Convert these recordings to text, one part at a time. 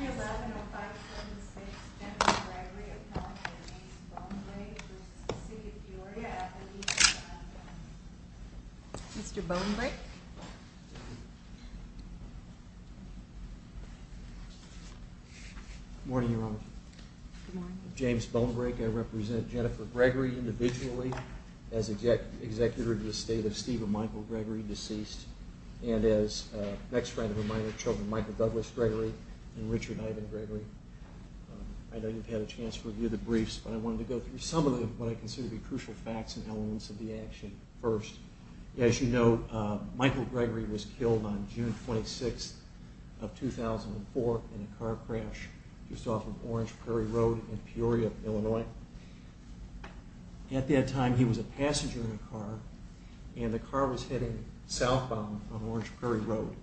311-0576, Jennifer Gregory, appellant to James Bonebrake, v. City of Peoria, appendix 7-1. Mr. Bonebrake? Good morning, Your Honor. Good morning. I'm James Bonebrake. I represent Jennifer Gregory, individually, as executor to the state of Stephen Michael Gregory, deceased, and as an ex-friend of her minor children, Michael Douglas Gregory and Richard Ivan Gregory. I know you've had a chance to review the briefs, but I wanted to go through some of what I consider to be crucial facts and elements of the action first. As you know, Michael Gregory was killed on June 26, 2004, in a car crash just off of Orange Prairie Road in Peoria, Illinois. At that time, he was a passenger in a car, and the car was heading southbound on Orange Prairie Road.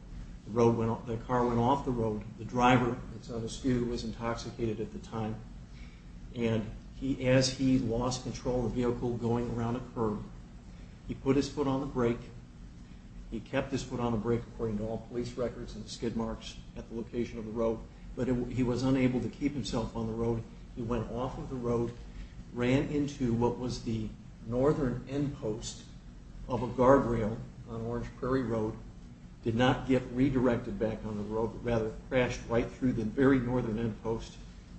The car went off the road. The driver was intoxicated at the time, and as he lost control of the vehicle going around a curb, he put his foot on the brake. He kept his foot on the brake, according to all police records and skid marks at the location of the road, but he was unable to keep himself on the road. He went off of the road, ran into what was the northern end post of a guardrail on Orange Prairie Road, did not get redirected back on the road, but rather crashed right through the very northern end post,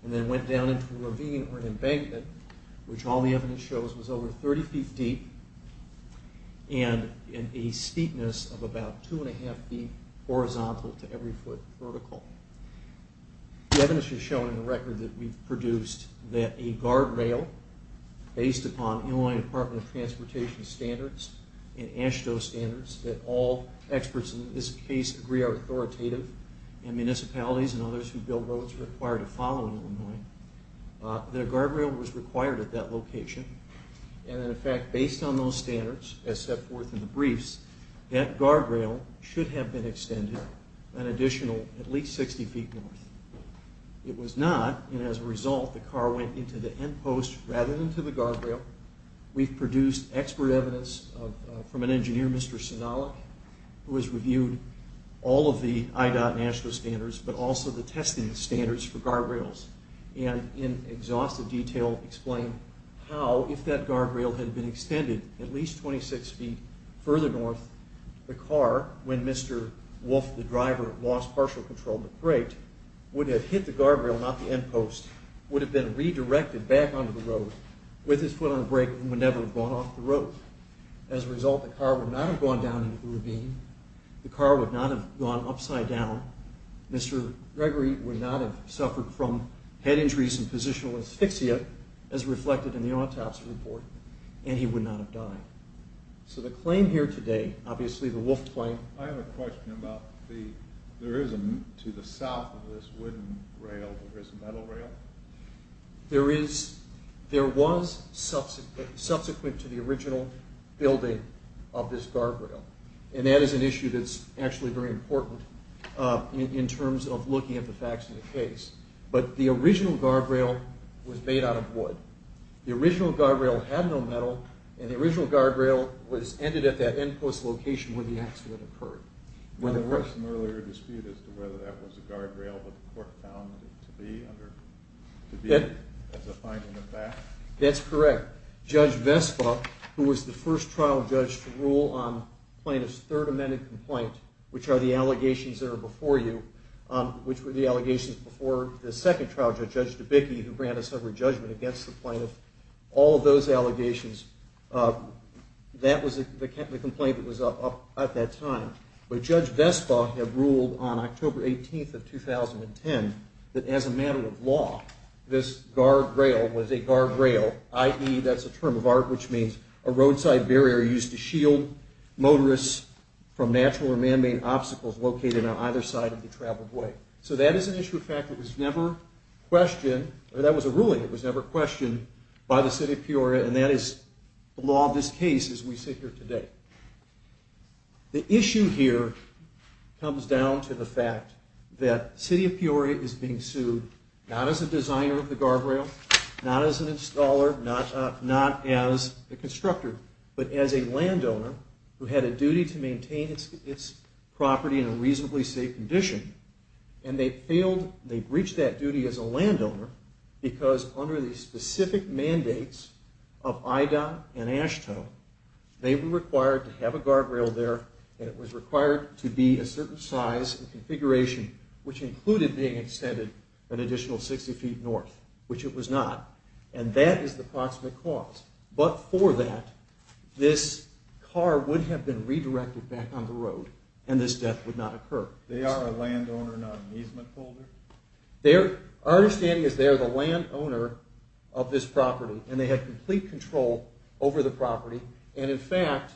and then went down into a ravine or an embankment, which all the evidence shows was over 30 feet deep and a steepness of about two and a half feet horizontal to every foot vertical. The evidence has shown in the record that we've produced that a guardrail, based upon Illinois Department of Transportation standards and AASHTO standards, that all experts in this case agree are authoritative, and municipalities and others who build roads are required to follow in Illinois, that a guardrail was required at that location, and in fact, based on those standards, as set forth in the briefs, that guardrail should have been extended an additional at least 60 feet north. It was not, and as a result, the car went into the end post rather than to the guardrail. We've produced expert evidence from an engineer, Mr. Sonalik, who has reviewed all of the IDOT and AASHTO standards, but also the testing standards for guardrails, and in exhaustive detail explained how, if that guardrail had been extended at least 26 feet further north, the car, when Mr. Wolf, the driver, lost partial control and braked, would have hit the guardrail, not the end post, would have been redirected back onto the road with his foot on the brake, and would never have gone off the road. As a result, the car would not have gone down into the ravine. The car would not have gone upside down. Mr. Gregory would not have suffered from head injuries and positional asphyxia, as reflected in the autopsy report, and he would not have died. So the claim here today, obviously the Wolf claim... I have a question about the, there is a, to the south of this wooden rail, there is a metal rail? There is, there was subsequent to the original building of this guardrail, and that is an issue that's actually very important in terms of looking at the facts of the case. But the original guardrail was made out of wood. The original guardrail had no metal, and the original guardrail was ended at that end post location where the accident occurred. There was some earlier dispute as to whether that was a guardrail, but the court found it to be, as a finding of fact. That's correct. Judge Vespa, who was the first trial judge to rule on plaintiff's third amended complaint, which are the allegations that are before you, which were the allegations before the second trial judge, Judge DeBicke, who granted a sober judgment against the plaintiff, all of those allegations, that was the complaint that was up at that time. But Judge Vespa had ruled on October 18th of 2010 that as a matter of law, this guardrail was a guardrail, i.e., that's a term of art, which means a roadside barrier used to shield motorists from natural or manmade obstacles located on either side of the traveled way. So that is an issue of fact that was never questioned, or that was a ruling that was never questioned by the city of Peoria, and that is the law of this case as we sit here today. The issue here comes down to the fact that the city of Peoria is being sued not as a designer of the guardrail, not as an installer, not as a constructor, but as a landowner who had a duty to maintain its property in a reasonably safe condition, and they breached that duty as a landowner because under the specific mandates of IDOT and AASHTO, they were required to have a guardrail there, and it was required to be a certain size and configuration, which included being extended an additional 60 feet north, which it was not, and that is the proximate cause. But for that, this car would have been redirected back on the road, and this death would not occur. They are a landowner, not an easement holder? Our understanding is they are the landowner of this property, and they had complete control over the property. And in fact,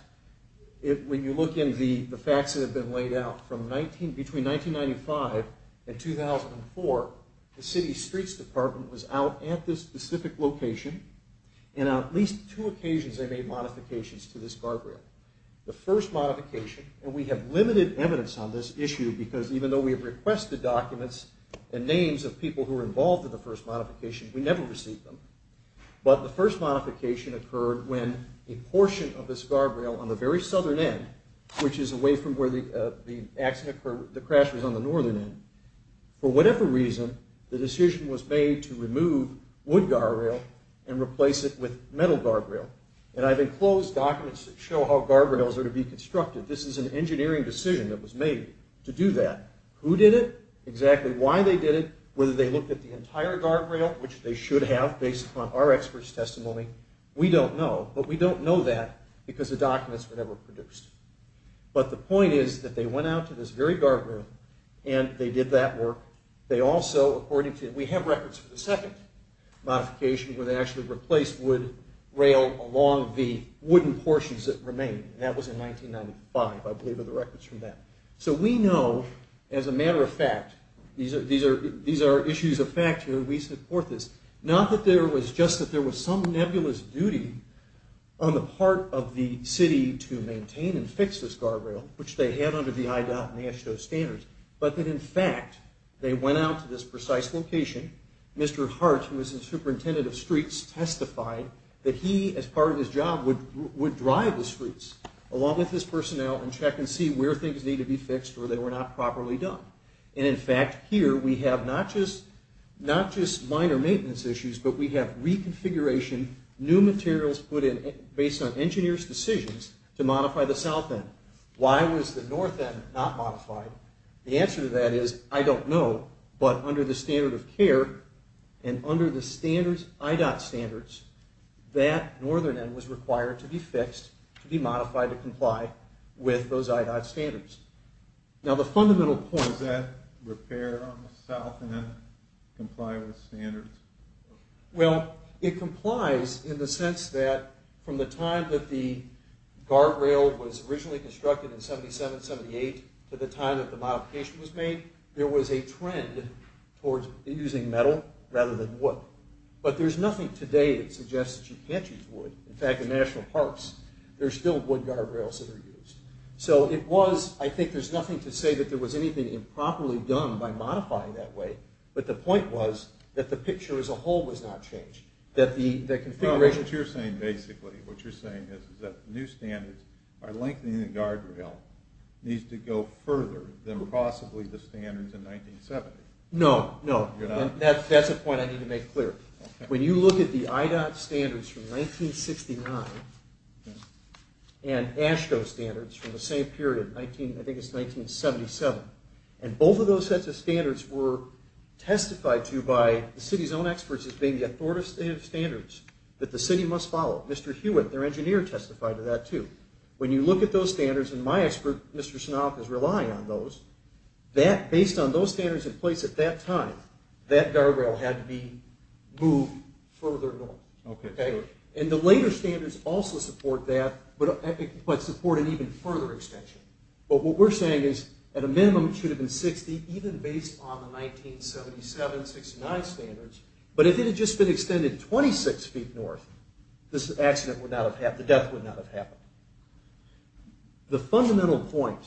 when you look in the facts that have been laid out, between 1995 and 2004, the city streets department was out at this specific location, and on at least two occasions they made modifications to this guardrail. The first modification, and we have limited evidence on this issue because even though we have requested documents and names of people who were involved in the first modification, we never received them, but the first modification occurred when a portion of this guardrail on the very southern end, which is away from where the accident occurred, the crash was on the northern end, for whatever reason, the decision was made to remove wood guardrail and replace it with metal guardrail. And I've enclosed documents that show how guardrails are to be constructed. This is an engineering decision that was made to do that. Who did it, exactly why they did it, whether they looked at the entire guardrail, which they should have based upon our expert's testimony, we don't know. But we don't know that because the documents were never produced. But the point is that they went out to this very guardrail, and they did that work. They also, according to, we have records for the second modification where they actually replaced wood rail along the wooden portions that remained. And that was in 1995, I believe, are the records from that. So we know, as a matter of fact, these are issues of fact here. We support this. Not that there was just that there was some nebulous duty on the part of the city to maintain and fix this guardrail, which they had under the IDOT and AASHTO standards, but that, in fact, they went out to this precise location. Mr. Hart, who was the superintendent of streets, testified that he, as part of his job, would drive the streets along with his personnel and check and see where things needed to be fixed or they were not properly done. And, in fact, here we have not just minor maintenance issues, but we have reconfiguration, new materials put in based on engineers' decisions to modify the south end. Why was the north end not modified? The answer to that is I don't know. But under the standard of care and under the IDOT standards, that northern end was required to be fixed, to be modified to comply with those IDOT standards. Now, the fundamental point... Is that repair on the south end comply with standards? Well, it complies in the sense that from the time that the guardrail was originally constructed in 77, 78, to the time that the modification was made, there was a trend towards using metal rather than wood. But there's nothing today that suggests that you can't use wood. In fact, in national parks, there's still wood guardrails that are used. So it was... I think there's nothing to say that there was anything improperly done by modifying that way, but the point was that the picture as a whole was not changed, that the configuration... Basically, what you're saying is that new standards, by lengthening the guardrail, needs to go further than possibly the standards in 1970. No, no. That's a point I need to make clear. When you look at the IDOT standards from 1969 and AASHTO standards from the same period, I think it's 1977, and both of those sets of standards were testified to by the city's own experts as being the authoritative standards that the city must follow. Mr. Hewitt, their engineer, testified to that, too. When you look at those standards, and my expert, Mr. Snell, is relying on those, based on those standards in place at that time, that guardrail had to be moved further north. And the later standards also support that, but support an even further extension. But what we're saying is, at a minimum, it should have been 60, even based on the 1977, 69 standards. But if it had just been extended 26 feet north, this accident would not have happened, the death would not have happened. The fundamental point,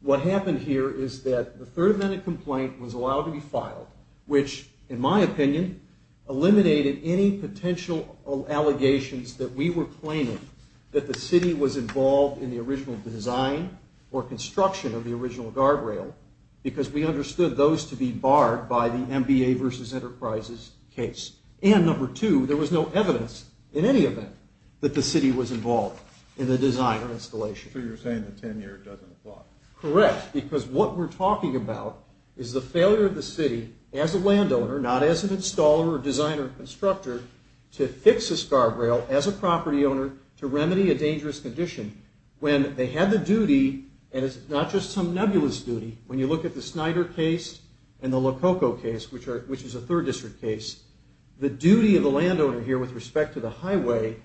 what happened here is that the third amendment complaint was allowed to be filed, which, in my opinion, eliminated any potential allegations that we were claiming that the city was involved in the original design or construction of the original guardrail, because we understood those to be barred by the MBA versus Enterprises case. And number two, there was no evidence, in any event, that the city was involved in the design or installation. So you're saying the 10-year doesn't apply. Correct, because what we're talking about is the failure of the city, as a landowner, not as an installer or designer or constructor, to fix a guardrail, as a property owner, to remedy a dangerous condition, when they had the duty, and it's not just some nebulous duty, when you look at the Snyder case and the Lococo case, which is a third district case, the duty of the landowner here with respect to the highway,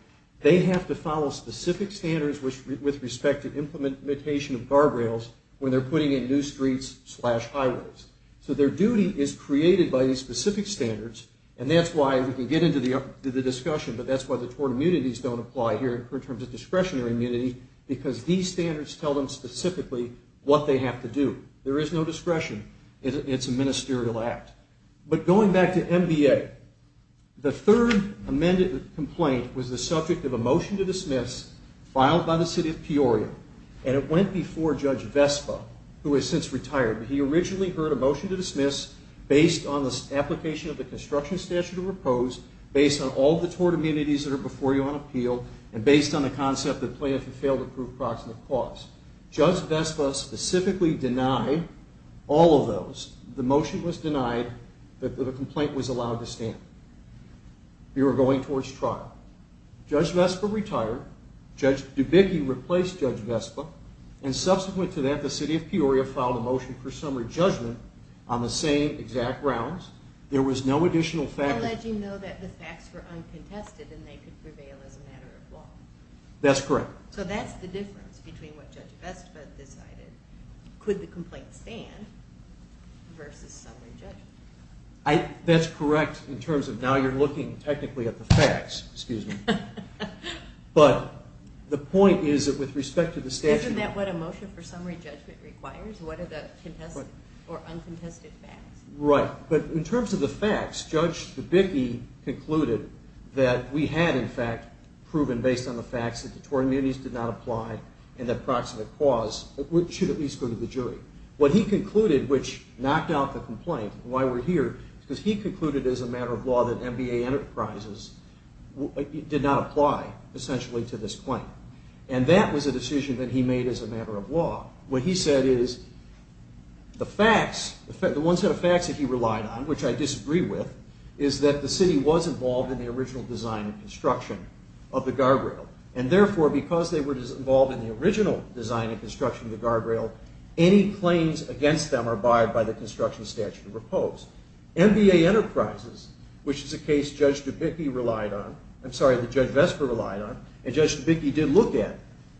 they have to follow specific standards with respect to implementation of guardrails when they're putting in new streets slash highways. So their duty is created by these specific standards, and that's why we can get into the discussion, but that's why the tort immunities don't apply here in terms of discretionary immunity, because these standards tell them specifically what they have to do. There is no discretion. It's a ministerial act. But going back to MBA, the third amended complaint was the subject of a motion to dismiss filed by the city of Peoria, and it went before Judge Vespa, who has since retired, but he originally heard a motion to dismiss based on the application of the construction statute of repose, based on all the tort immunities that are before you on appeal, and based on the concept that plaintiffs have failed to prove proximate cause. Judge Vespa specifically denied all of those. The motion was denied that the complaint was allowed to stand. We were going towards trial. Judge Vespa retired. Judge Dubicki replaced Judge Vespa, and subsequent to that, the city of Peoria filed a motion for summary judgment on the same exact grounds. There was no additional fact... Alleging, though, that the facts were uncontested and they could prevail as a matter of law. That's correct. So that's the difference between what Judge Vespa decided. Could the complaint stand versus summary judgment? That's correct in terms of now you're looking technically at the facts, excuse me. But the point is that with respect to the statute... Isn't that what a motion for summary judgment requires? What are the contested or uncontested facts? Right, but in terms of the facts, Judge Dubicki concluded that we had, in fact, proven based on the facts that the tort immunities did not apply and that proximate cause should at least go to the jury. What he concluded, which knocked out the complaint and why we're here, is because he concluded as a matter of law that MBA Enterprises did not apply, essentially, to this claim. And that was a decision that he made as a matter of law. What he said is the facts, the one set of facts that he relied on, which I disagree with, is that the city was involved in the original design and construction of the guardrail. And therefore, because they were involved in the original design and construction of the guardrail, any claims against them are barred by the construction statute of repose. MBA Enterprises, which is a case Judge Dubicki relied on, I'm sorry, that Judge Vespa relied on, and Judge Dubicki did look at,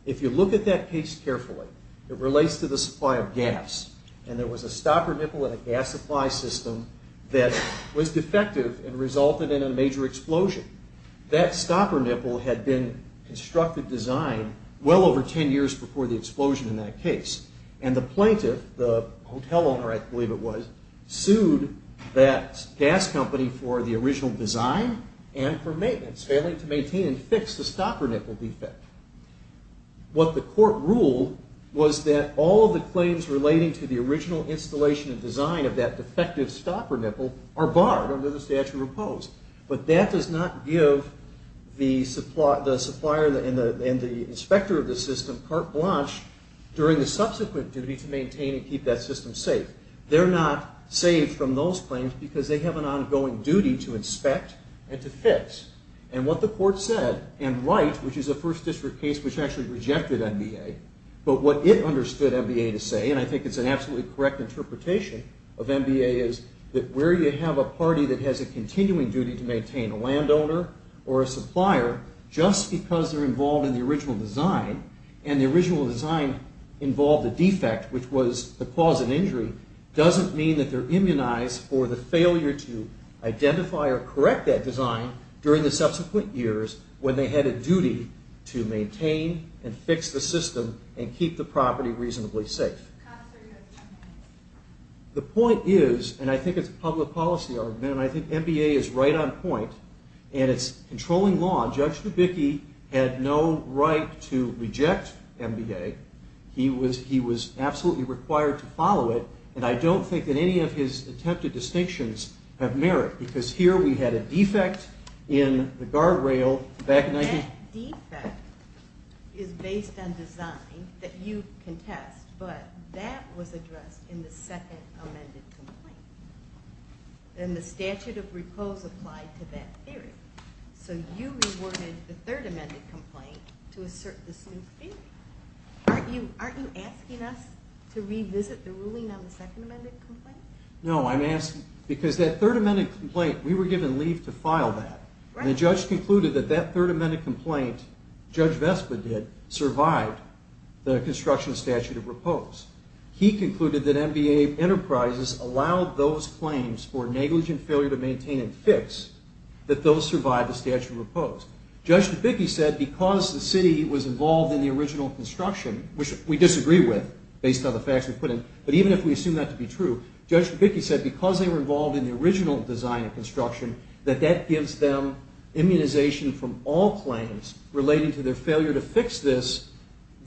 if you look at that case carefully, it relates to the supply of gas. And there was a stopper nipple in a gas supply system that was defective and resulted in a major explosion. That stopper nipple had been constructed design well over ten years before the explosion in that case. And the plaintiff, the hotel owner I believe it was, sued that gas company for the original design and for maintenance, failing to maintain and fix the stopper nipple defect. What the court ruled was that all of the claims relating to the original installation and design of that defective stopper nipple are barred under the statute of repose. But that does not give the supplier and the inspector of the system, Carte Blanche, during the subsequent duty to maintain and keep that system safe. They're not saved from those claims because they have an ongoing duty to inspect and to fix. And what the court said, and Wright, which is a First District case, which actually rejected NBA, but what it understood NBA to say, and I think it's an absolutely correct interpretation of NBA, is that where you have a party that has a continuing duty to maintain a landowner or a supplier just because they're involved in the original design, and the original design involved a defect which was the cause of the injury, doesn't mean that they're immunized for the failure to identify or correct that design during the subsequent years when they had a duty to maintain and fix the system and keep the property reasonably safe. The point is, and I think it's a public policy argument, and I think NBA is right on point, and it's controlling law. Judge Dubicki had no right to reject NBA. He was absolutely required to follow it, and I don't think that any of his attempted distinctions have merit because here we had a defect in the guardrail back in 19... That defect is based on design that you contest, but that was addressed in the second amended complaint. And the statute of repose applied to that theory. So you reworded the third amended complaint to assert this new theory. Aren't you asking us to revisit the ruling on the second amended complaint? No, I'm asking because that third amended complaint, we were given leave to file that, and the judge concluded that that third amended complaint, Judge Vespa did, survived the construction statute of repose. He concluded that NBA Enterprises allowed those claims for negligent failure to maintain and fix that those survived the statute of repose. Judge Dubicki said because the city was involved in the original construction, which we disagree with based on the facts we put in, but even if we assume that to be true, Judge Dubicki said because they were involved in the original design and construction, that that gives them immunization from all claims relating to their failure to fix this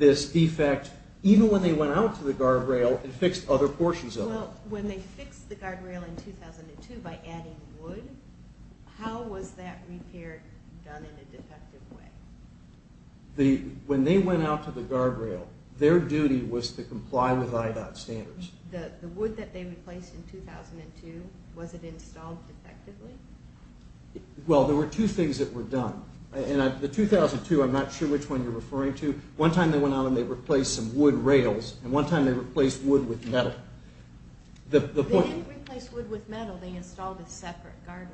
defect, even when they went out to the guardrail and fixed other portions of it. Well, when they fixed the guardrail in 2002 by adding wood, how was that repair done in a defective way? When they went out to the guardrail, their duty was to comply with IDOT standards. The wood that they replaced in 2002, was it installed defectively? Well, there were two things that were done. The 2002, I'm not sure which one you're referring to, one time they went out and they replaced some wood rails, and one time they replaced wood with metal. They didn't replace wood with metal, they installed a separate guardrail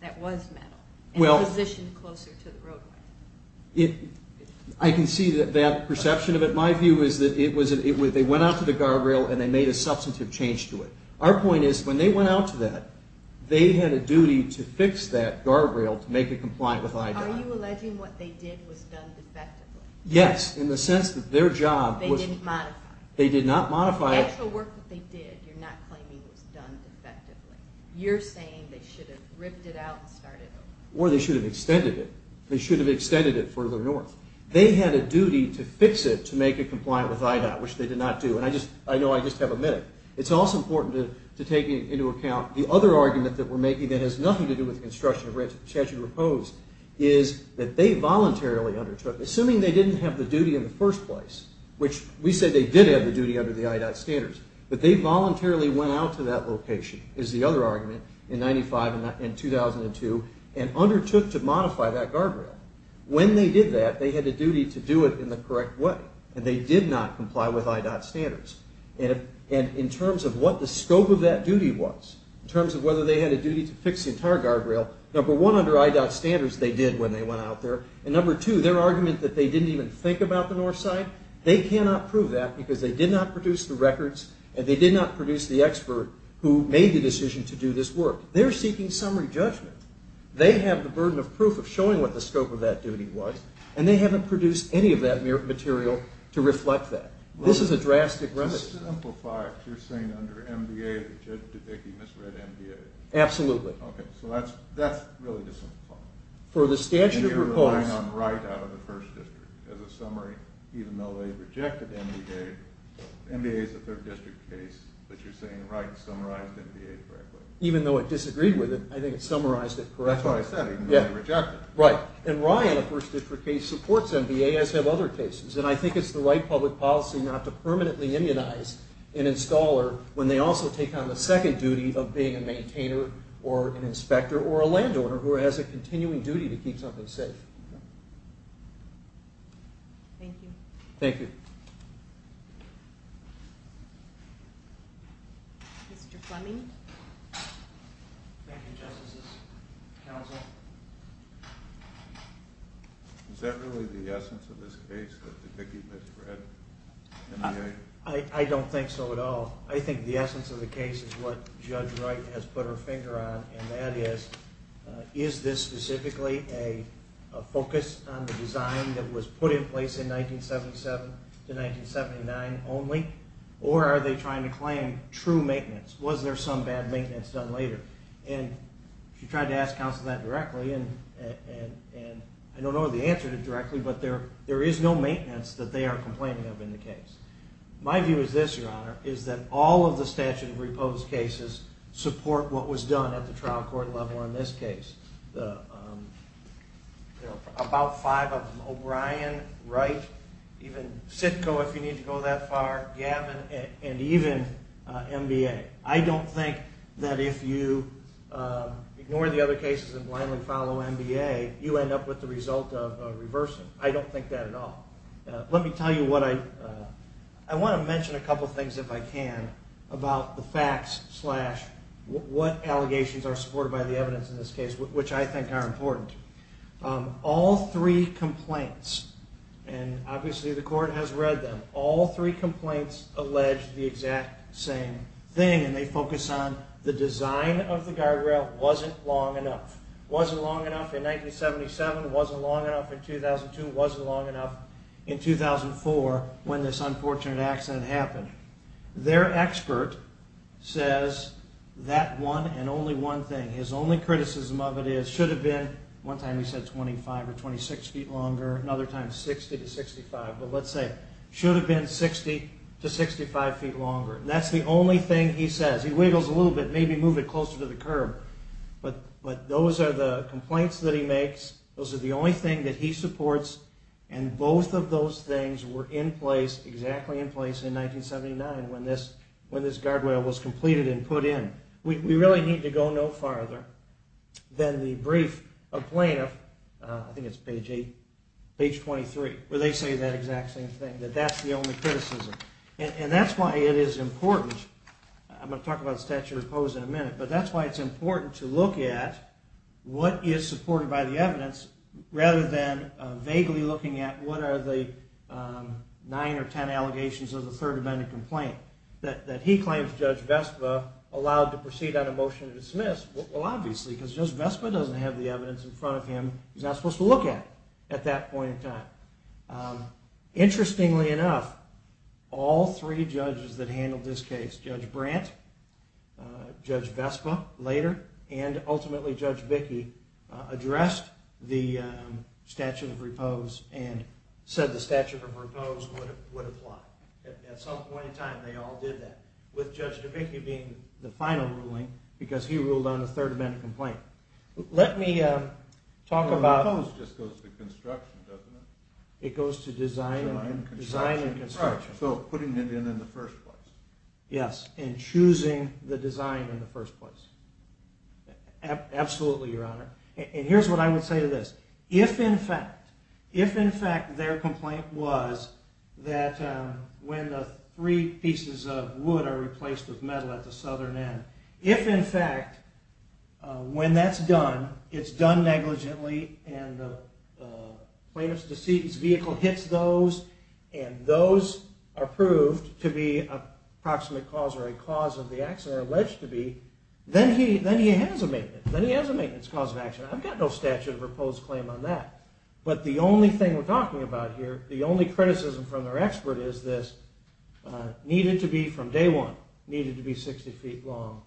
that was metal, and positioned it closer to the roadway. I can see that perception of it. My view is that they went out to the guardrail and they made a substantive change to it. Our point is, when they went out to that, they had a duty to fix that guardrail to make it compliant with IDOT. Are you alleging what they did was done defectively? Yes, in the sense that their job was... They didn't modify it. They did not modify it. The actual work that they did, you're not claiming was done defectively. You're saying they should have ripped it out and started over. Or they should have extended it. They should have extended it further north. They had a duty to fix it to make it compliant with IDOT, which they did not do, and I know I just have a minute. It's also important to take into account the other argument that we're making that has nothing to do with the construction of statute of repose, is that they voluntarily undertook, assuming they didn't have the duty in the first place, which we said they did have the duty under the IDOT standards, that they voluntarily went out to that location, is the other argument, in 1995 and 2002, and undertook to modify that guardrail. When they did that, they had a duty to do it in the correct way, and they did not comply with IDOT standards. And in terms of what the scope of that duty was, in terms of whether they had a duty to fix the entire guardrail, number one, under IDOT standards, they did when they went out there, and number two, their argument that they didn't even think about the north side, they cannot prove that because they did not produce the records and they did not produce the expert who made the decision to do this work. They're seeking summary judgment. They have the burden of proof of showing what the scope of that duty was, and they haven't produced any of that material to reflect that. This is a drastic remedy. To simplify, you're saying under MDA, the judge deducting misread MDA? Absolutely. Okay, so that's really to simplify. For the statute of repose... You're relying on right out of the First District. As a summary, even though they rejected MDA, MDA is a Third District case, but you're saying Wright summarized MDA correctly. Even though it disagreed with it, I think it summarized it correctly. That's what I said, even though they rejected it. Right. And Wright, in the First District case, supports MDA, as have other cases. And I think it's the right public policy not to permanently immunize an installer when they also take on the second duty of being a maintainer or an inspector or a landowner who has a continuing duty to keep something safe. Thank you. Thank you. Mr. Fleming? Thank you, Justices. Counsel? Is that really the essence of this case, that the Dickey misread MDA? I don't think so at all. I think the essence of the case is what Judge Wright has put her finger on, and that is, is this specifically a focus on the design that was put in place in 1977 to 1979 only, or are they trying to claim true maintenance? Was there some bad maintenance done later? And she tried to ask counsel that directly, and I don't know the answer to it directly, but there is no maintenance that they are complaining of in the case. My view is this, Your Honor, is that all of the statute of repose cases support what was done at the trial court level on this case. About five of them, O'Brien, Wright, even Sitko, if you need to go that far, Gavin, and even MDA. I don't think that if you ignore the other cases and blindly follow MDA, you end up with the result of reversing. I don't think that at all. Let me tell you what I... I want to mention a couple things, if I can, about the facts what allegations are supported by the evidence in this case, which I think are important. All three complaints, and obviously the court has read them, all three complaints allege the exact same thing, and they focus on the design of the guardrail wasn't long enough. Wasn't long enough in 1977, wasn't long enough in 2002, wasn't long enough in 2004 when this unfortunate accident happened. Their expert says that one and only one thing, his only criticism of it is, should have been, one time he said 25 or 26 feet longer, another time 60 to 65, but let's say, should have been 60 to 65 feet longer. That's the only thing he says. He wiggles a little bit, maybe move it closer to the curb, but those are the complaints that he makes, those are the only thing that he supports, and both of those things were in place, exactly in place, in 1979 when this guardrail was completed and put in. We really need to go no farther than the brief of plaintiff, I think it's page 8, page 23, where they say that exact same thing, that that's the only criticism. And that's why it is important, I'm going to talk about statute of opposing in a minute, but that's why it's important to look at what is supported by the evidence rather than vaguely looking at what are the 9 or 10 allegations of the third amendment complaint. That he claims Judge Vespa allowed to proceed on a motion to dismiss, well obviously, because Judge Vespa doesn't have the evidence in front of him, he's not supposed to look at it at that point in time. Interestingly enough, all three judges that handled this case, Judge Brandt, Judge Vespa later, and ultimately Judge Bickey, addressed the statute of oppose and said the statute of oppose would apply. At some point in time they all did that, with Judge Bickey being the final ruling because he ruled on the third amendment complaint. Let me talk about... Oppose just goes to construction, doesn't it? It goes to design and construction. So putting it in in the first place. Yes, and choosing the design in the first place. Absolutely, Your Honor. And here's what I would say to this. If in fact their complaint was that when the three pieces of wood are replaced with metal at the southern end, if in fact when that's done, it's done negligently and the plaintiff's vehicle hits those and those are proved to be a proximate cause or a cause of the acts that are alleged to be, then he has a maintenance cause of action. I've got no statute of oppose claim on that. But the only thing we're talking about here, the only criticism from their expert is this needed to be from day one, needed to be 60 feet long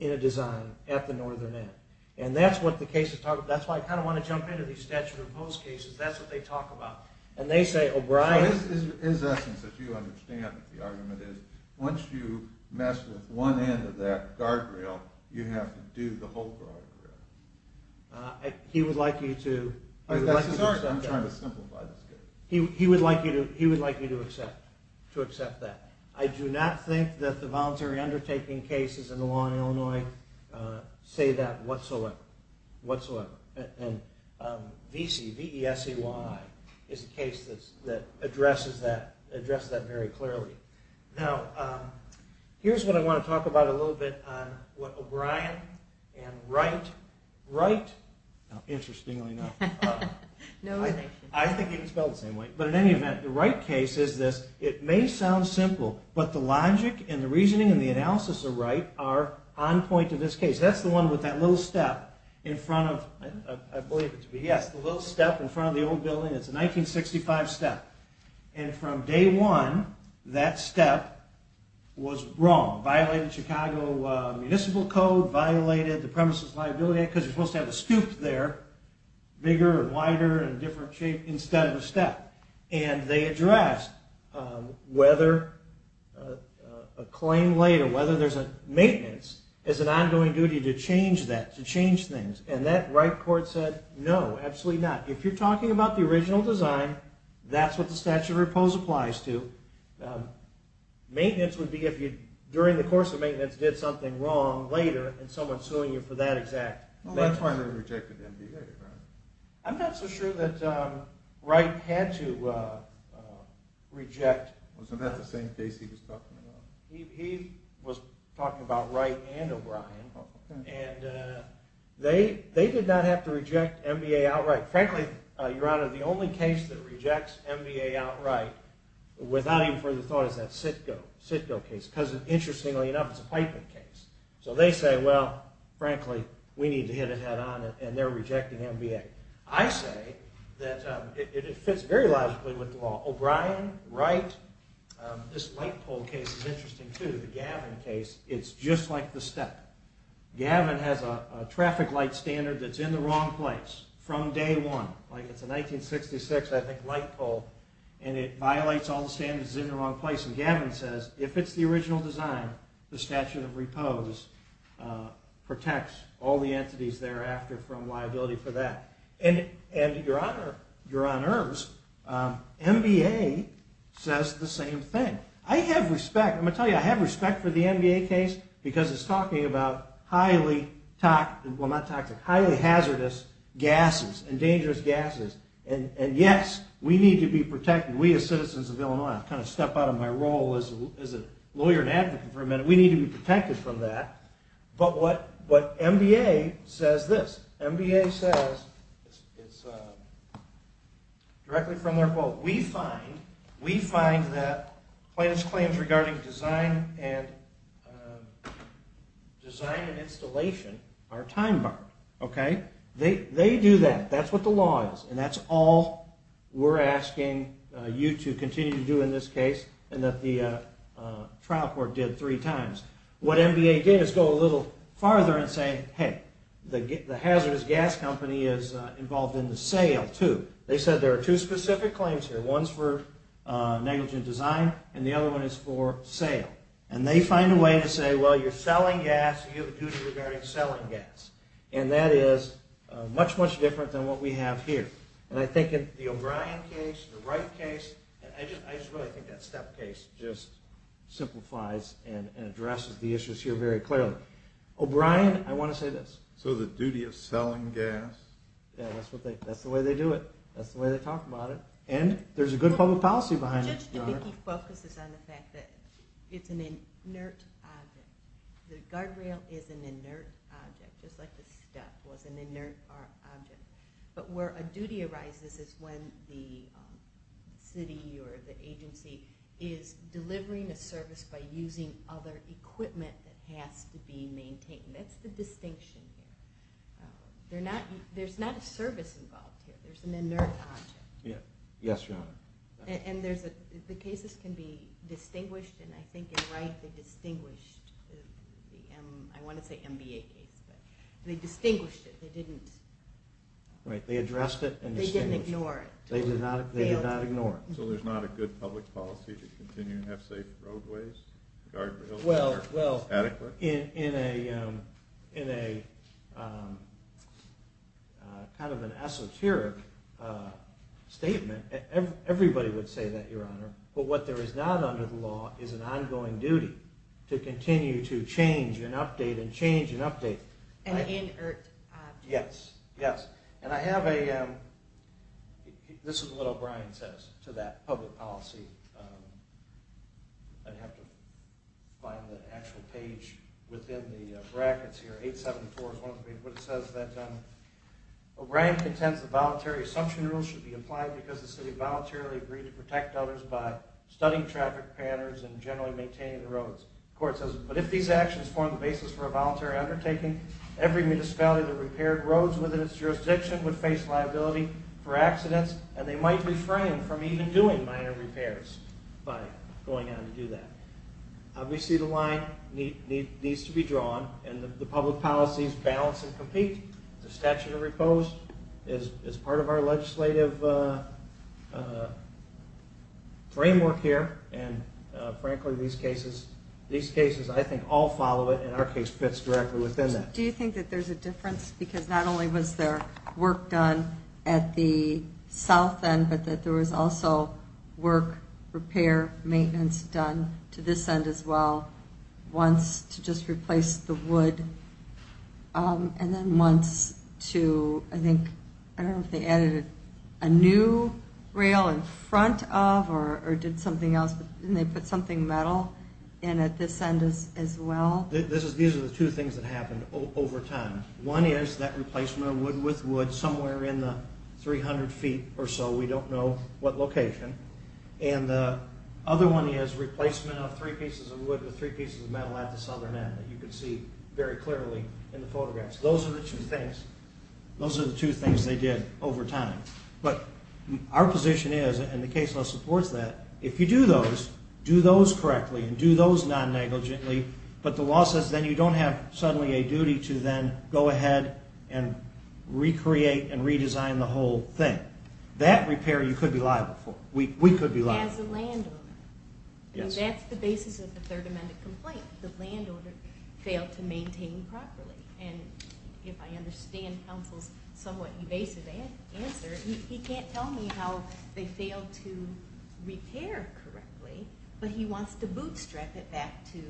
in a design at the northern end. And that's what the case is talking about. That's why I kind of want to jump into these statute of oppose cases. That's what they talk about. And they say, O'Brien... So it is essence that you understand what the argument is. Once you mess with one end of that guardrail, you have to do the whole guardrail. He would like you to... That's his argument. I'm trying to simplify this case. He would like you to accept that. I do not think that the voluntary undertaking cases in the law in Illinois say that whatsoever. And V-E-S-E-Y is a case that addresses that very clearly. Now, here's what I want to talk about a little bit on what O'Brien and Wright... Wright, interestingly enough... I think they can spell it the same way. But in any event, the Wright case is this. It may sound simple, but the logic and the reasoning and the analysis of Wright are on point in this case. That's the one with that little step in front of... I believe it to be... Yes, the little step in front of the old building. It's a 1965 step. And from day one, that step was wrong. It violated Chicago municipal code, violated the premises liability act, because you're supposed to have a scoop there, bigger and wider and different shape, instead of a step. And they addressed whether a claim later, whether there's a maintenance, is an ongoing duty to change that, to change things. And that Wright court said, no, absolutely not. If you're talking about the original design, that's what the statute of repose applies to. Maintenance would be if you, during the course of maintenance, did something wrong later, and someone's suing you for that exact... Well, that's why they rejected MBA, right? I'm not so sure that Wright had to reject... Wasn't that the same case he was talking about? He was talking about Wright and O'Brien. And they did not have to reject MBA outright. Frankly, Your Honor, the only case that rejects MBA outright, without even further thought, is that Sitko case. Because, interestingly enough, it's a piping case. So they say, well, frankly, we need to hit it head-on, and they're rejecting MBA. I say that it fits very logically with the law. O'Brien, Wright, this light pole case is interesting, too. The Gavin case, it's just like the step. Gavin has a traffic light standard that's in the wrong place from day one. Like, it's a 1966, I think, light pole, and it violates all the standards. It's in the wrong place. And Gavin says, if it's the original design, the statute of repose protects all the entities thereafter from liability for that. And, Your Honor, MBA says the same thing. I have respect. I'm going to tell you, I have respect for the MBA case because it's talking about highly toxic... gases, and dangerous gases. And, yes, we need to be protected. We, as citizens of Illinois, kind of step out of my role as a lawyer and advocate for a minute, we need to be protected from that. But what MBA says this. MBA says, it's directly from their quote, we find that plaintiff's claims regarding design and installation are time-barred. They do that. That's what the law is. And that's all we're asking you to continue to do in this case and that the trial court did three times. What MBA did is go a little farther and say, hey, the hazardous gas company is involved in the sale, too. They said there are two specific claims here. One's for negligent design, and the other one is for sale. And they find a way to say, well, you're selling gas, you have a duty regarding selling gas. And that is much, much different than what we have here. And I think in the O'Brien case, the Wright case, I just really think that step case just simplifies and addresses the issues here very clearly. O'Brien, I want to say this. So the duty of selling gas? Yeah, that's the way they do it. That's the way they talk about it. And there's a good public policy behind it, Your Honor. Judge Dubicki focuses on the fact that it's an inert object. The guardrail is an inert object, just like the step was an inert object. But where a duty arises is when the city or the agency is delivering a service by using other equipment that has to be maintained. That's the distinction here. There's not a service involved here. There's an inert object. Yes, Your Honor. And the cases can be distinguished, and I think in Wright they distinguished the, I want to say MBA case, but they distinguished it. They didn't... Right, they addressed it and distinguished it. They didn't ignore it. They did not ignore it. So there's not a good public policy to continue and have safe roadways, guardrails that are adequate? Well, in a kind of an esoteric statement, everybody would say that, Your Honor. But what there is not under the law is an ongoing duty to continue to change and update and change and update. An inert object. Yes, yes. And I have a... This is what O'Brien says to that public policy. I'd have to find the actual page within the brackets here. 874 is what it says. O'Brien contends the voluntary assumption rule should be studied traffic patterns and generally maintaining the roads. The court says, but if these actions form the basis for a voluntary undertaking, every municipality that repaired roads within its jurisdiction would face liability for accidents, and they might refrain from even doing minor repairs by going on to do that. Obviously the line needs to be drawn, and the public policies balance and compete. The statute of repose is part of our legislative framework here, and, frankly, these cases, I think, all follow it, and our case fits directly within that. Do you think that there's a difference? Because not only was there work done at the south end, but that there was also work, repair, maintenance done to this end as well, once to just replace the wood, and then once to, I think, I don't know if they added a new rail in front of, or did something else, and they put something metal in at this end as well. These are the two things that happened over time. One is that replacement of wood with wood somewhere in the 300 feet or so. We don't know what location. And the other one is replacement of three pieces of wood with three pieces of metal at the southern end that you can see very clearly in the photographs. Those are the two things. Those are the two things they did over time. But our position is, and the case law supports that, if you do those, do those correctly and do those non-negligently, but the law says then you don't have suddenly a duty to then go ahead and recreate and redesign the whole thing. That repair you could be liable for. We could be liable. As a landowner. Yes. That's the basis of the Third Amendment complaint. The landowner failed to maintain properly. And if I understand counsel's somewhat evasive answer, he can't tell me how they failed to repair correctly, but he wants to bootstrap it back to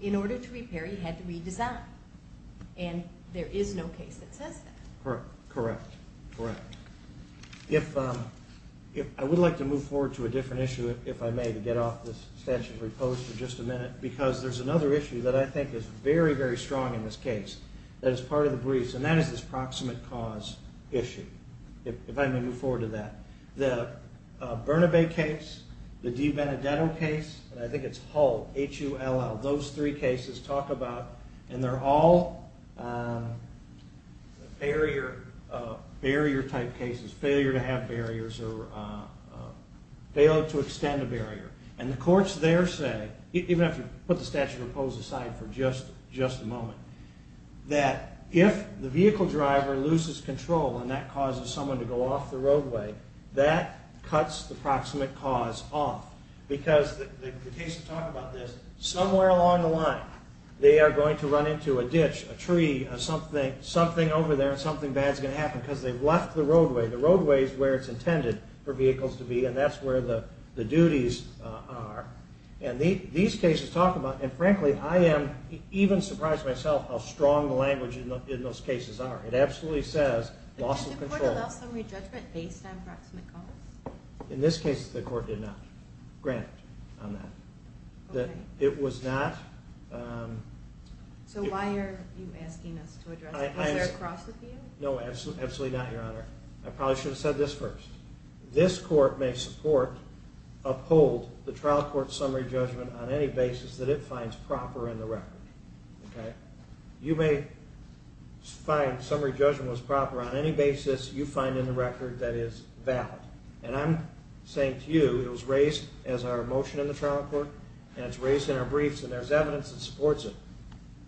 in order to repair, he had to redesign. And there is no case that says that. Correct. Correct. Correct. I would like to move forward to a different issue, if I may, to get off this statute of repose for just a minute, because there's another issue that I think is very, very strong in this case that is part of the briefs, and that is this proximate cause issue, if I may move forward to that. The Bernabé case, the DiBenedetto case, and I think it's Hull, H-U-L-L, those three cases talk about, and they're all barrier-type cases, failure to have barriers or fail to extend a barrier. And the courts there say, even if you put the statute of repose aside for just a moment, that if the vehicle driver loses control and that causes someone to go off the roadway, that cuts the proximate cause off. Because the case will talk about this, somewhere along the line, they are going to run into a ditch, a tree, something over there, and something bad is going to happen because they've left the roadway. The roadway is where it's intended for vehicles to be, and that's where the duties are. And these cases talk about, and frankly, I am even surprised myself how strong the language in those cases are. It absolutely says loss of control. Did the court allow summary judgment based on proximate cause? In this case, the court did not. Granted on that. It was not... So why are you asking us to address it? Was there a cross-review? No, absolutely not, Your Honor. I probably should have said this first. This court may support, uphold the trial court's summary judgment on any basis that it finds proper in the record. You may find summary judgment was proper on any basis you find in the record that is valid. And I'm saying to you, it was raised as our motion in the trial court, and it's raised in our briefs, and there's evidence that supports it.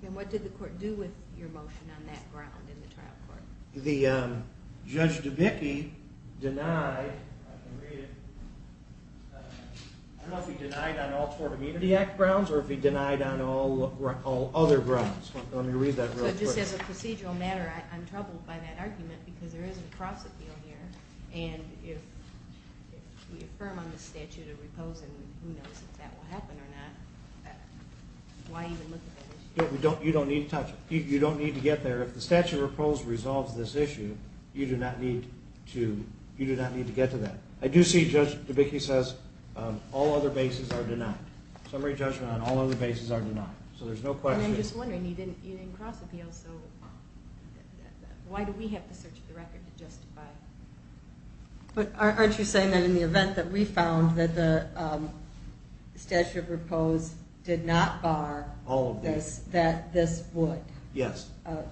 And what did the court do with your motion on that ground in the trial court? The Judge DeBicke denied... I can read it. I don't know if he denied on all Tort Immunity Act grounds or if he denied on all other grounds. Let me read that real quick. So just as a procedural matter, I'm troubled by that argument because there is a cross-appeal here, and if we affirm on the statute of repose, and who knows if that will happen or not, why even look at that issue? You don't need to touch it. You don't need to get there. If the statute of repose resolves this issue, you do not need to get to that. I do see Judge DeBicke says all other bases are denied. Summary judgment on all other bases are denied. So there's no question. And I'm just wondering, you didn't cross-appeal, so why do we have to search the record to justify? Aren't you saying that in the event that we found that the statute of repose did not bar that this would? Yes.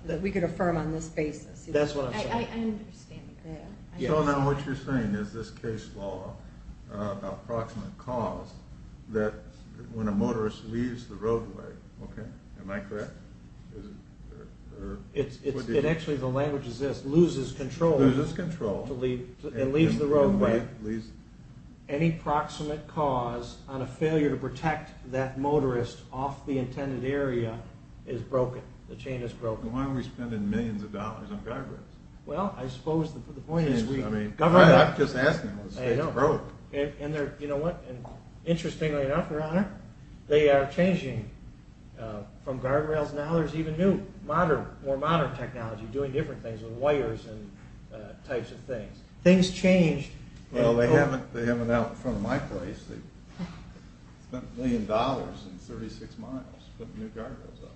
That we could affirm on this basis. That's what I'm saying. I understand that. So now what you're saying is this case law about proximate cause that when a motorist leaves the roadway, okay? Am I correct? It actually, the language is this, loses control. Loses control. And leaves the roadway. Any proximate cause on a failure to protect that motorist off the intended area is broken. The chain is broken. And why are we spending millions of dollars on guardrails? Well, I suppose the point is we cover it up. I'm just asking. I know. The state's broke. And you know what? Interestingly enough, Your Honor, they are changing from guardrails. Now there's even new, more modern technology doing different things with wires and types of things. Things change. Well, they haven't out in front of my place. Spent a million dollars and 36 miles putting new guardrails up.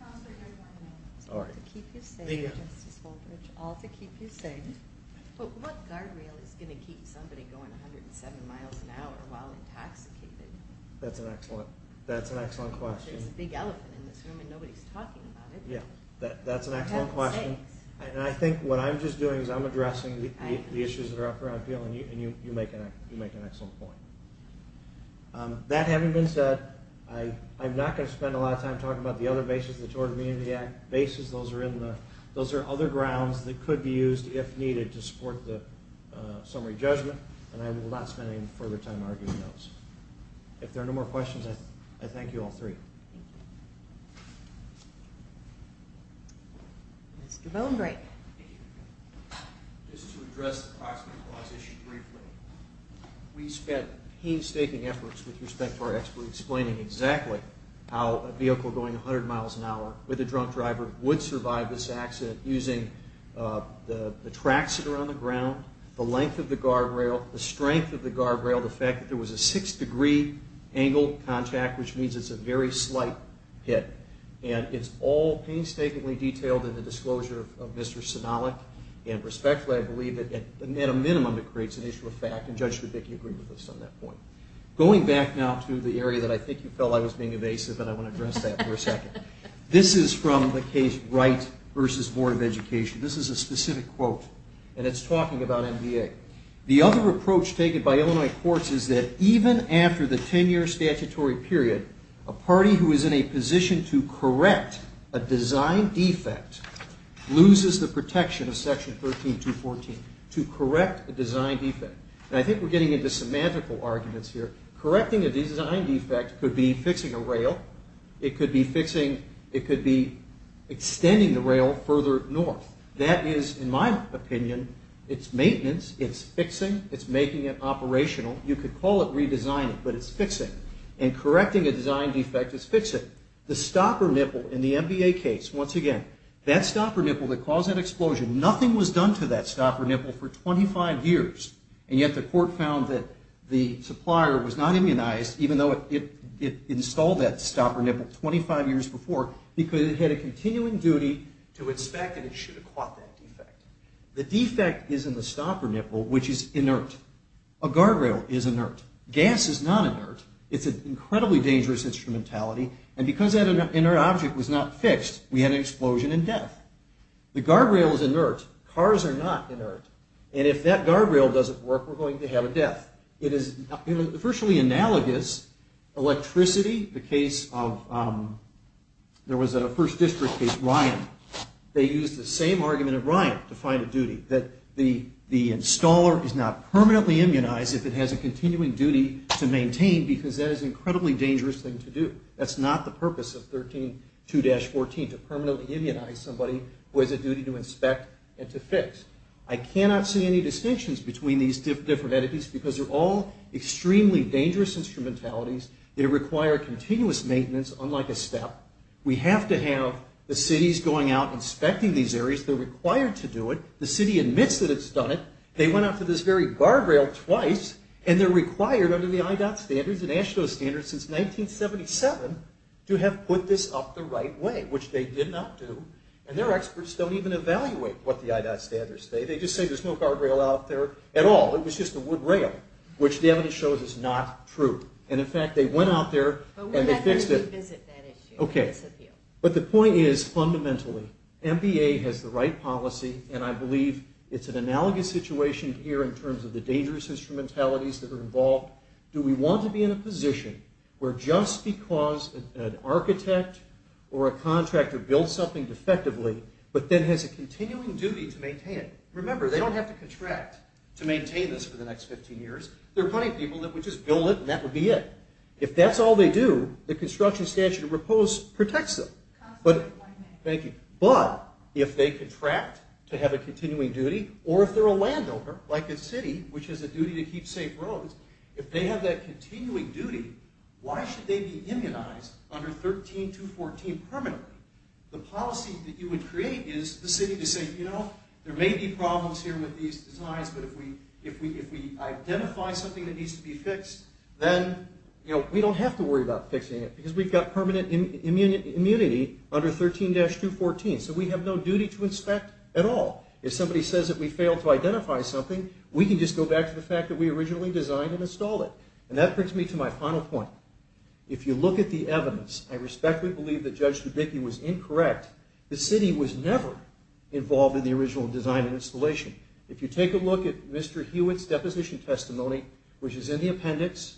Counselor, your point is all to keep you safe, Justice Fulbridge. All to keep you safe. But what guardrail is going to keep somebody going 107 miles an hour while intoxicated? That's an excellent question. There's a big elephant in this room and nobody's talking about it. That's an excellent question. And I think what I'm just doing is I'm addressing the issues that are up and you make an excellent point. That having been said, I'm not going to spend a lot of time talking about the other bases that you ordered me into the act. Those are other grounds that could be used, if needed, to support the summary judgment. And I will not spend any further time arguing those. If there are no more questions, I thank you, all three. Mr. Bonebrake. Just to address the proximity clause issue briefly, we spent painstaking efforts with respect to our experts explaining exactly how a vehicle going 100 miles an hour with a drunk driver would survive this accident using the tracks that are on the ground, the length of the guardrail, the strength of the guardrail, the fact that there was a six-degree angle contact, which means it's a very slight hit. And it's all painstakingly detailed in the disclosure of Mr. Sinalik. And respectfully, I believe that at a minimum, it creates an issue of fact. And Judge Zubik, you agree with us on that point. Going back now to the area that I think you felt I was being evasive, and I want to address that for a second. This is from the case Wright v. Board of Education. This is a specific quote, and it's talking about MBA. The other approach taken by Illinois courts is that even after the 10-year statutory period, a party who is in a position to correct a design defect loses the protection of Section 13214 to correct a design defect. And I think we're getting into semantical arguments here. Correcting a design defect could be fixing a rail. It could be fixing – it could be extending the rail further north. That is, in my opinion, it's maintenance, it's fixing, it's making it operational. You could call it redesigning, but it's fixing. And correcting a design defect is fixing. The stopper nipple in the MBA case, once again, that stopper nipple that caused that explosion, nothing was done to that stopper nipple for 25 years, and yet the court found that the supplier was not immunized, even though it installed that stopper nipple 25 years before, because it had a continuing duty to inspect, and it should have caught that defect. The defect is in the stopper nipple, which is inert. A guardrail is inert. Gas is not inert. It's an incredibly dangerous instrumentality, and because that inert object was not fixed, we had an explosion and death. The guardrail is inert. Cars are not inert. And if that guardrail doesn't work, we're going to have a death. It is virtually analogous. Electricity, the case of – there was a First District case, Ryan. They used the same argument at Ryan to find a duty, that the installer is not permanently immunized if it has a continuing duty to maintain, because that is an incredibly dangerous thing to do. That's not the purpose of 132-14, to permanently immunize somebody who has a duty to inspect and to fix. I cannot see any distinctions between these different entities because they're all extremely dangerous instrumentalities. They require continuous maintenance, unlike a step. We have to have the cities going out and inspecting these areas. They're required to do it. The city admits that it's done it. They went out to this very guardrail twice, and they're required under the IDOT standards and AASHTO standards since 1977 to have put this up the right way, which they did not do. And their experts don't even evaluate what the IDOT standards say. They just say there's no guardrail out there at all. It was just a wood rail, which the evidence shows is not true. And, in fact, they went out there and they fixed it. But we're not going to revisit that issue. Okay. But the point is, fundamentally, MBA has the right policy, and I believe it's an analogous situation here in terms of the dangerous instrumentalities that are involved. Do we want to be in a position where just because an architect or a contractor builds something defectively but then has a continuing duty to maintain it? Remember, they don't have to contract to maintain this for the next 15 years. There are plenty of people that would just build it, and that would be it. If that's all they do, the construction statute protects them. Thank you. But if they contract to have a continuing duty, or if they're a landowner, like a city, which has a duty to keep safe roads, if they have that continuing duty, why should they be immunized under 13214 permanently? The policy that you would create is the city to say, you know, there may be problems here with these designs, but if we identify something that needs to be fixed, then we don't have to worry about fixing it because we've got permanent immunity under 13-214. So we have no duty to inspect at all. If somebody says that we failed to identify something, we can just go back to the fact that we originally designed and installed it. And that brings me to my final point. If you look at the evidence, I respectfully believe that Judge Dubicki was incorrect. The city was never involved in the original design and installation. If you take a look at Mr. Hewitt's deposition testimony, which is in the appendix,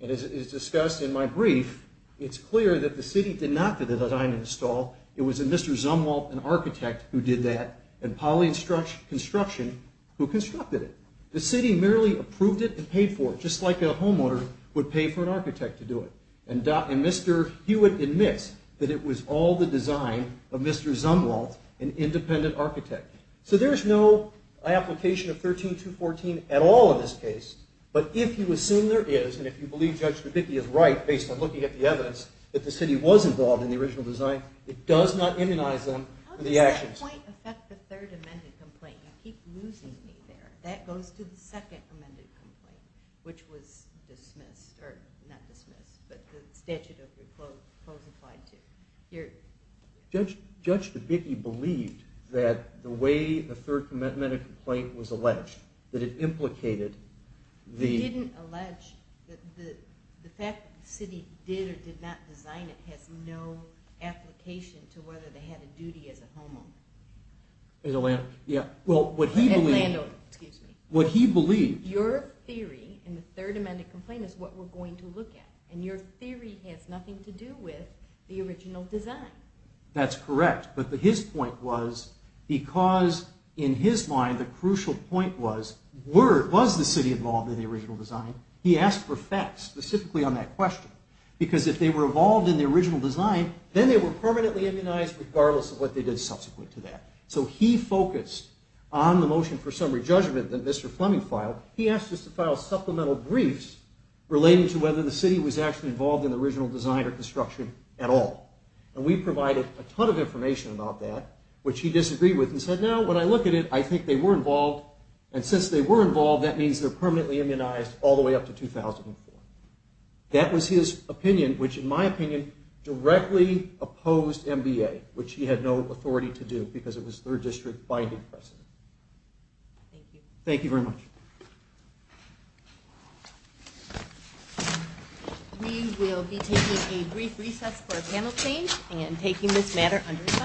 and is discussed in my brief, it's clear that the city did not do the design and install. It was Mr. Zumwalt, an architect, who did that, and Poly Construction, who constructed it. The city merely approved it and paid for it, just like a homeowner would pay for an architect to do it. And Mr. Hewitt admits that it was all the design of Mr. Zumwalt, an independent architect. So there's no application of 13-214 at all in this case. But if you assume there is, and if you believe Judge Dubicki is right, based on looking at the evidence, that the city was involved in the original design, it does not immunize them to the actions. How does that point affect the third amended complaint? You keep losing me there. That goes to the second amended complaint, which was dismissed, or not dismissed, but the statute of reclose applied to. Judge Dubicki believed that the way the third amended complaint was alleged, that it implicated the... He didn't allege that the fact that the city did or did not design it has no application to whether they had a duty as a homeowner. As a landowner, yeah. Well, what he believed... As a landowner, excuse me. What he believed... Your theory in the third amended complaint is what we're going to look at, and your theory has nothing to do with the original design. That's correct, but his point was, because, in his mind, the crucial point was, was the city involved in the original design? He asked for facts, specifically on that question, because if they were involved in the original design, then they were permanently immunized, regardless of what they did subsequent to that. So he focused on the motion for summary judgment that Mr. Fleming filed. He asked us to file supplemental briefs relating to whether the city was actually involved in the original design or construction at all. And we provided a ton of information about that, which he disagreed with and said, no, when I look at it, I think they were involved, and since they were involved, that means they're permanently immunized all the way up to 2004. That was his opinion, which, in my opinion, directly opposed MBA, which he had no authority to do, because it was third district binding precedent. Thank you. Thank you very much. We will be taking a brief recess for a panel change and taking this matter under review.